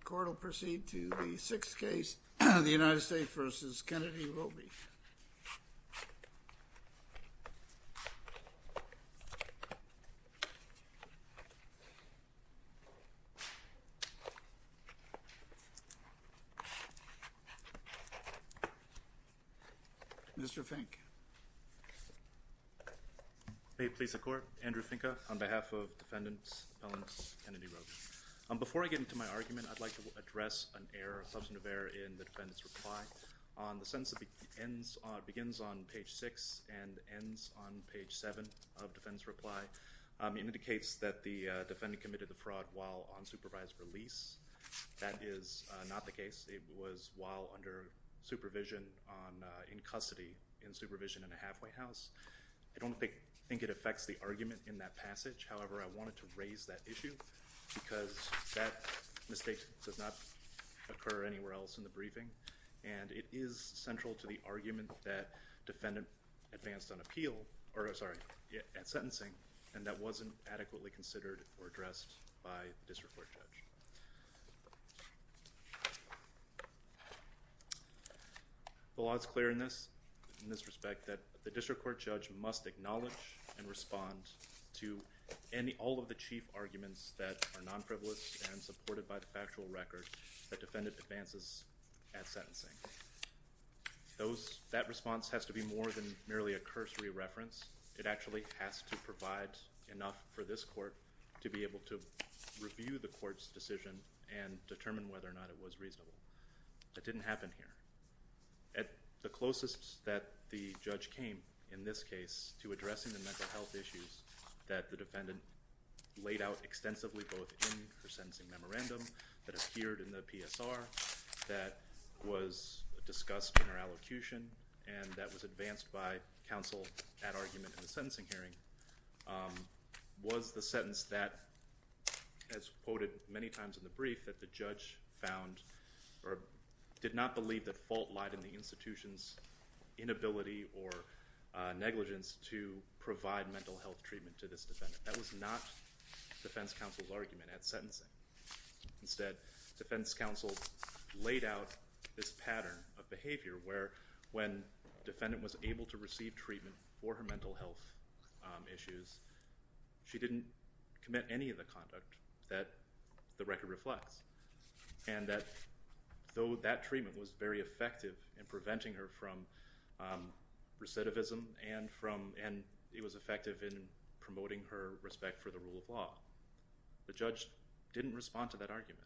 The court will proceed to the sixth case, the United States v. Kennedy-Robey. Mr. Fink. May it please the court. Andrew Finka on behalf of defendants, appellants, Kennedy-Robey. Before I get into my argument, I'd like to address an error, a substantive error in the defendant's reply. The sentence begins on page 6 and ends on page 7 of the defendant's reply. It indicates that the defendant committed the fraud while on supervised release. That is not the case. It was while under supervision in custody, in supervision in a halfway house. I don't think it affects the argument in that passage. However, I wanted to raise that issue because that mistake does not occur anywhere else in the briefing. And it is central to the argument that defendant advanced on appeal, or sorry, at sentencing, and that wasn't adequately considered or addressed by the district court judge. The law is clear in this respect that the district court judge must acknowledge and respond to all of the chief arguments that are non-privileged and supported by the factual record that defendant advances at sentencing. That response has to be more than merely a cursory reference. It actually has to provide enough for this court to be able to review the court's decision and determine whether or not it was reasonable. That didn't happen here. At the closest that the judge came in this case to addressing the mental health issues that the defendant laid out extensively both in her sentencing memorandum that appeared in the PSR that was discussed in her allocution and that was advanced by counsel at argument in the sentencing hearing was the sentence that, as quoted many times in the brief, that the judge found or did not believe that fault lied in the institution's inability or negligence to provide mental health treatment to this defendant. That was not defense counsel's argument at sentencing. Instead, defense counsel laid out this pattern of behavior where when defendant was able to receive treatment for her mental health issues, she didn't commit any of the conduct that the record reflects and that though that treatment was very effective in preventing her from recidivism and it was effective in promoting her respect for the rule of law, the judge didn't respond to that argument.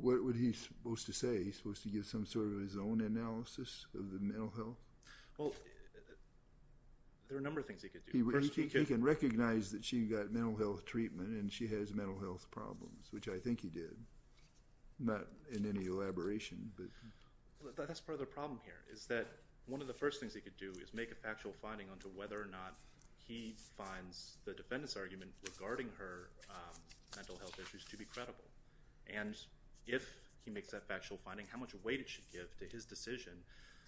What was he supposed to say? He was supposed to give some sort of his own analysis of the mental health? Well, there are a number of things he could do. He can recognize that she got mental health treatment and she has mental health problems, which I think he did, not in any elaboration, but... That's part of the problem here is that one of the first things he could do is make a factual finding onto whether or not he finds the defendant's argument regarding her mental health issues to be credible. And if he makes that factual finding, how much weight did she give to his decision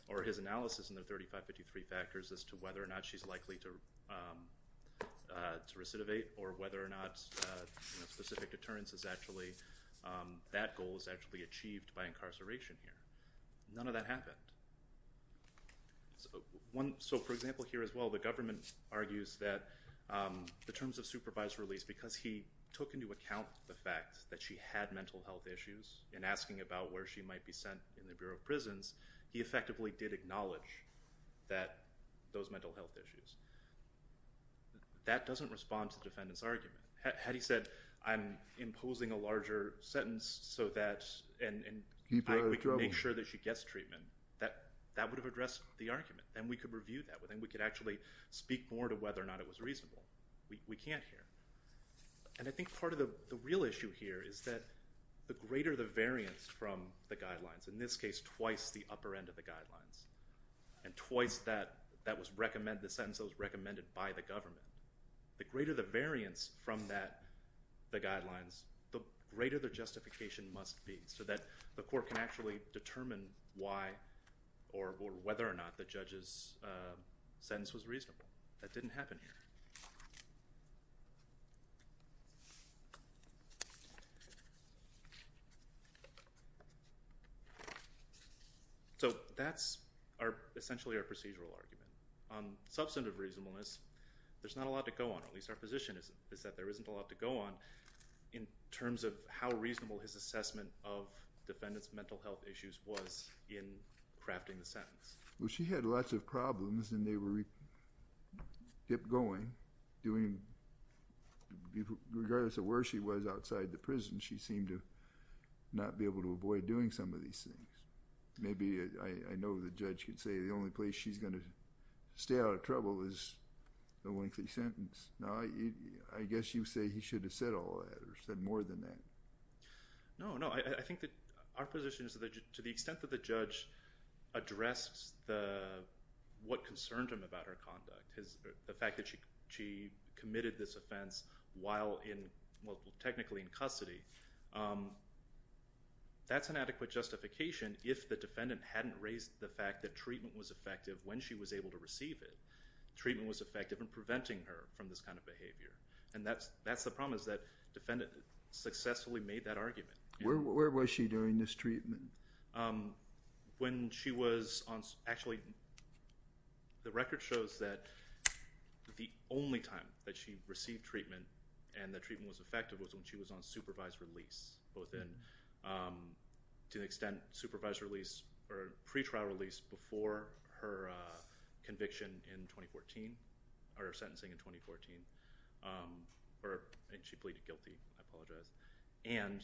or his analysis in the 3553 factors as to whether or not she's likely to recidivate or whether or not specific deterrence is actually... that goal is actually achieved by incarceration here. None of that happened. So, for example, here as well, the government argues that the terms of supervised release, because he took into account the fact that she had mental health issues and asking about where she might be sent in the Bureau of Prisons, he effectively did acknowledge those mental health issues. That doesn't respond to the defendant's argument. Had he said, I'm imposing a larger sentence so that... Keep her out of trouble.... make sure that she gets treatment, that would have addressed the argument, and we could review that, and we could actually speak more to whether or not it was reasonable. We can't here. And I think part of the real issue here is that the greater the variance from the guidelines, in this case twice the upper end of the guidelines, and twice the sentence that was recommended by the government, the greater the variance from the guidelines, the greater the justification must be so that the court can actually determine why or whether or not the judge's sentence was reasonable. That didn't happen here. So that's essentially our procedural argument. On substantive reasonableness, there's not a lot to go on, or at least our position is that there isn't a lot to go on, in terms of how reasonable his assessment of the defendant's mental health issues was in crafting the sentence. Well, she had lots of problems, and they were kept going, doing... regardless of where she was outside the prison, she seemed to not be able to avoid doing some of these things. Maybe I know the judge can say the only place she's going to stay out of trouble is the lengthy sentence. I guess you say he should have said all that, or said more than that. No, no. I think that our position is that to the extent that the judge addressed what concerned him about her conduct, the fact that she committed this offense while technically in custody, that's an adequate justification if the defendant hadn't raised the fact that treatment was effective when she was able to receive it. Treatment was effective in preventing her from this kind of behavior. And that's the problem, is that the defendant successfully made that argument. Where was she during this treatment? When she was on... Actually, the record shows that the only time that she received treatment and the treatment was effective was when she was on supervised release, to the extent supervised release or pretrial release before her conviction in 2014, or her sentencing in 2014. And she pleaded guilty. I apologize. And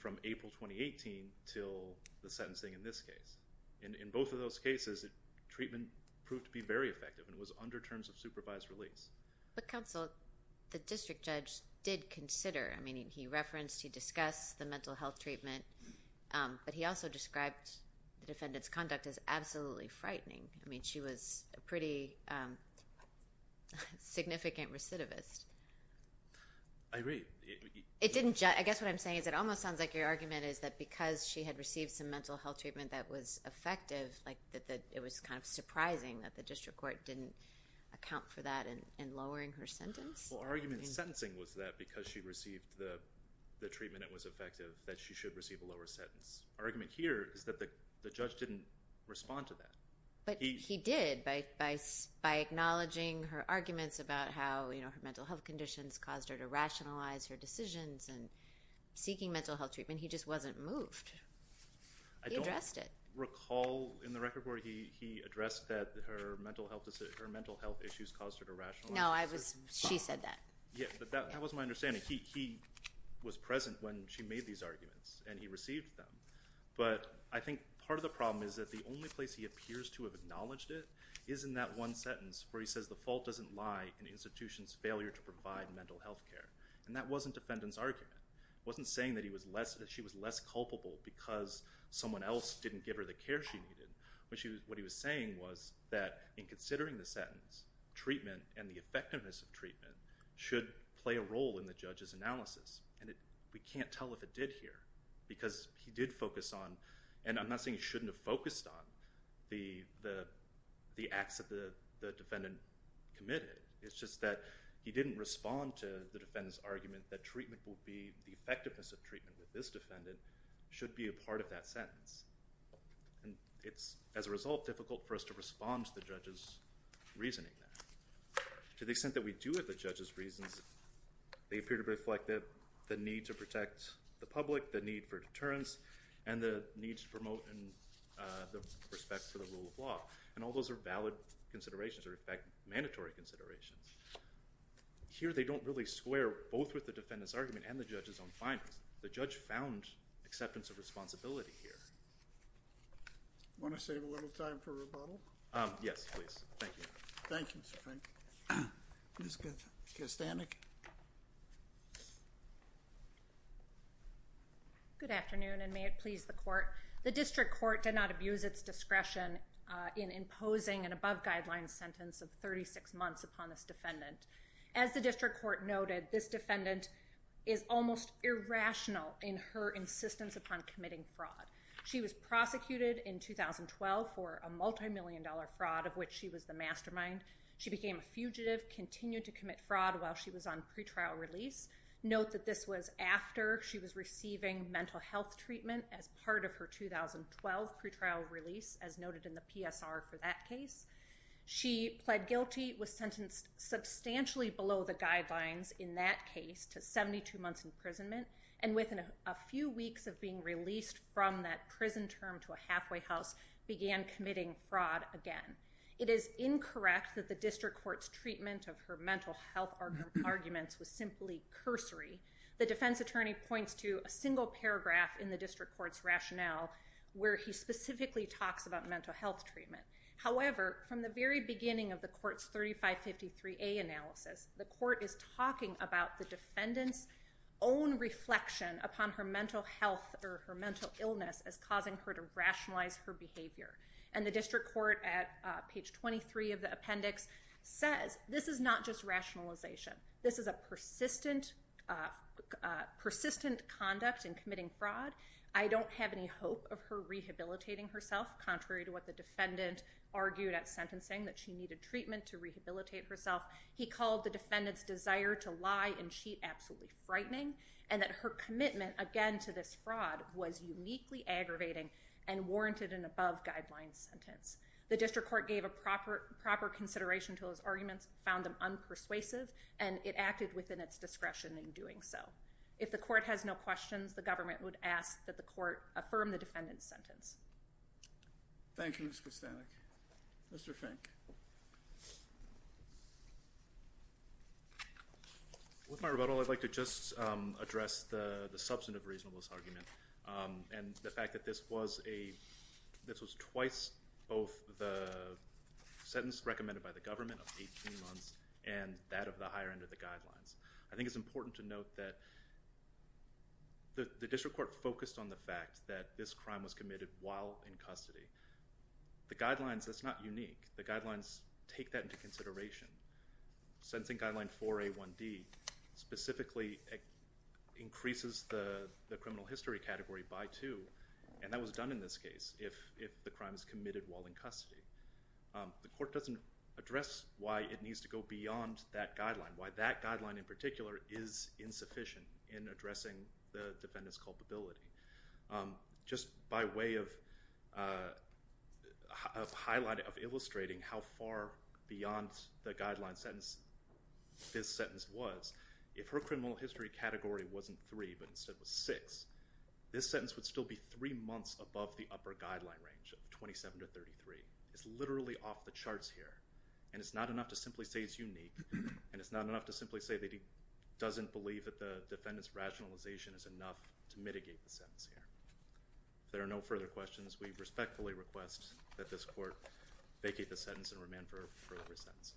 from April 2018 until the sentencing in this case. In both of those cases, treatment proved to be very effective, and it was under terms of supervised release. But, counsel, the district judge did consider. I mean, he referenced, he discussed the mental health treatment, but he also described the defendant's conduct as absolutely frightening. I mean, she was a pretty significant recidivist. I agree. I guess what I'm saying is it almost sounds like your argument is that because she had received some mental health treatment that was effective, it was kind of surprising that the district court didn't account for that in lowering her sentence. Well, our argument in sentencing was that because she received the treatment that was effective, that she should receive a lower sentence. Our argument here is that the judge didn't respond to that. But he did. By acknowledging her arguments about how her mental health conditions caused her to rationalize her decisions and seeking mental health treatment, he just wasn't moved. He addressed it. I don't recall in the record where he addressed that her mental health issues caused her to rationalize. No, she said that. Yeah, but that wasn't my understanding. He was present when she made these arguments, and he received them. But I think part of the problem is that the only place he appears to have acknowledged it is in that one sentence where he says the fault doesn't lie in institutions' failure to provide mental health care. And that wasn't defendant's argument. It wasn't saying that she was less culpable because someone else didn't give her the care she needed. What he was saying was that in considering the sentence, treatment and the effectiveness of treatment should play a role in the judge's analysis. And we can't tell if it did here because he did focus on, and I'm not saying he shouldn't have focused on the acts that the defendant committed. It's just that he didn't respond to the defendant's argument that the effectiveness of treatment with this defendant should be a part of that sentence. And it's, as a result, difficult for us to respond to the judge's reasoning there. To the extent that we do have the judge's reasons, they appear to reflect the need to protect the public, the need for deterrence, and the need to promote respect for the rule of law. And all those are valid considerations or, in fact, mandatory considerations. Here they don't really square both with the defendant's argument and the judge's own findings. The judge found acceptance of responsibility here. Want to save a little time for rebuttal? Yes, please. Thank you. Thank you, Mr. Fink. Ms. Kastanik. Good afternoon, and may it please the Court. The district court did not abuse its discretion in imposing an above-guideline sentence of 36 months upon this defendant. As the district court noted, this defendant is almost irrational in her insistence upon committing fraud. She was prosecuted in 2012 for a multimillion-dollar fraud of which she was the mastermind. She became a fugitive, continued to commit fraud while she was on pretrial release. Note that this was after she was receiving mental health treatment as part of her 2012 pretrial release, as noted in the PSR for that case. She pled guilty, was sentenced substantially below the guidelines in that case to 72 months' imprisonment, and within a few weeks of being released from that prison term to a halfway house, began committing fraud again. It is incorrect that the district court's treatment of her mental health arguments was simply cursory. The defense attorney points to a single paragraph in the district court's rationale where he specifically talks about mental health treatment. However, from the very beginning of the court's 3553A analysis, the court is talking about the defendant's own reflection upon her mental health or her mental illness as causing her to rationalize her behavior. And the district court at page 23 of the appendix says this is not just rationalization. This is a persistent conduct in committing fraud. I don't have any hope of her rehabilitating herself, contrary to what the defendant argued at sentencing, that she needed treatment to rehabilitate herself. He called the defendant's desire to lie and cheat absolutely frightening, and that her commitment, again, to this fraud was uniquely aggravating and warranted an above-guidelines sentence. The district court gave a proper consideration to those arguments, found them unpersuasive, and it acted within its discretion in doing so. If the court has no questions, the government would ask that the court affirm the defendant's sentence. Thank you, Ms. Kostanek. Mr. Fink. With my rebuttal, I'd like to just address the substantive reasonableness argument and the fact that this was twice both the sentence recommended by the government of 18 months and that of the higher end of the guidelines. I think it's important to note that the district court focused on the fact that this crime was committed while in custody. The guidelines, that's not unique. The guidelines take that into consideration. Sentencing Guideline 4A1D specifically increases the criminal history category by two, and that was done in this case if the crime was committed while in custody. The court doesn't address why it needs to go beyond that guideline, why that guideline in particular is insufficient in addressing the defendant's culpability. Just by way of illustrating how far beyond the guideline sentence this sentence was, if her criminal history category wasn't three but instead was six, this sentence would still be three months above the upper guideline range of 27 to 33. It's literally off the charts here, and it's not enough to simply say it's unique, and it's not enough to simply say that he doesn't believe that the defendant's rationalization is enough to mitigate the sentence here. If there are no further questions, we respectfully request that this court vacate the sentence and remand for a further sentence.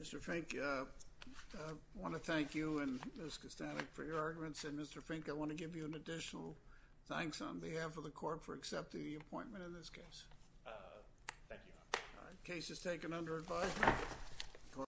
Mr. Fink, I want to thank you and Ms. Kostanek for your arguments, and Mr. Fink, I want to give you an additional thanks on behalf of the court for accepting the appointment in this case. Thank you, Your Honor. The case is taken under advisement.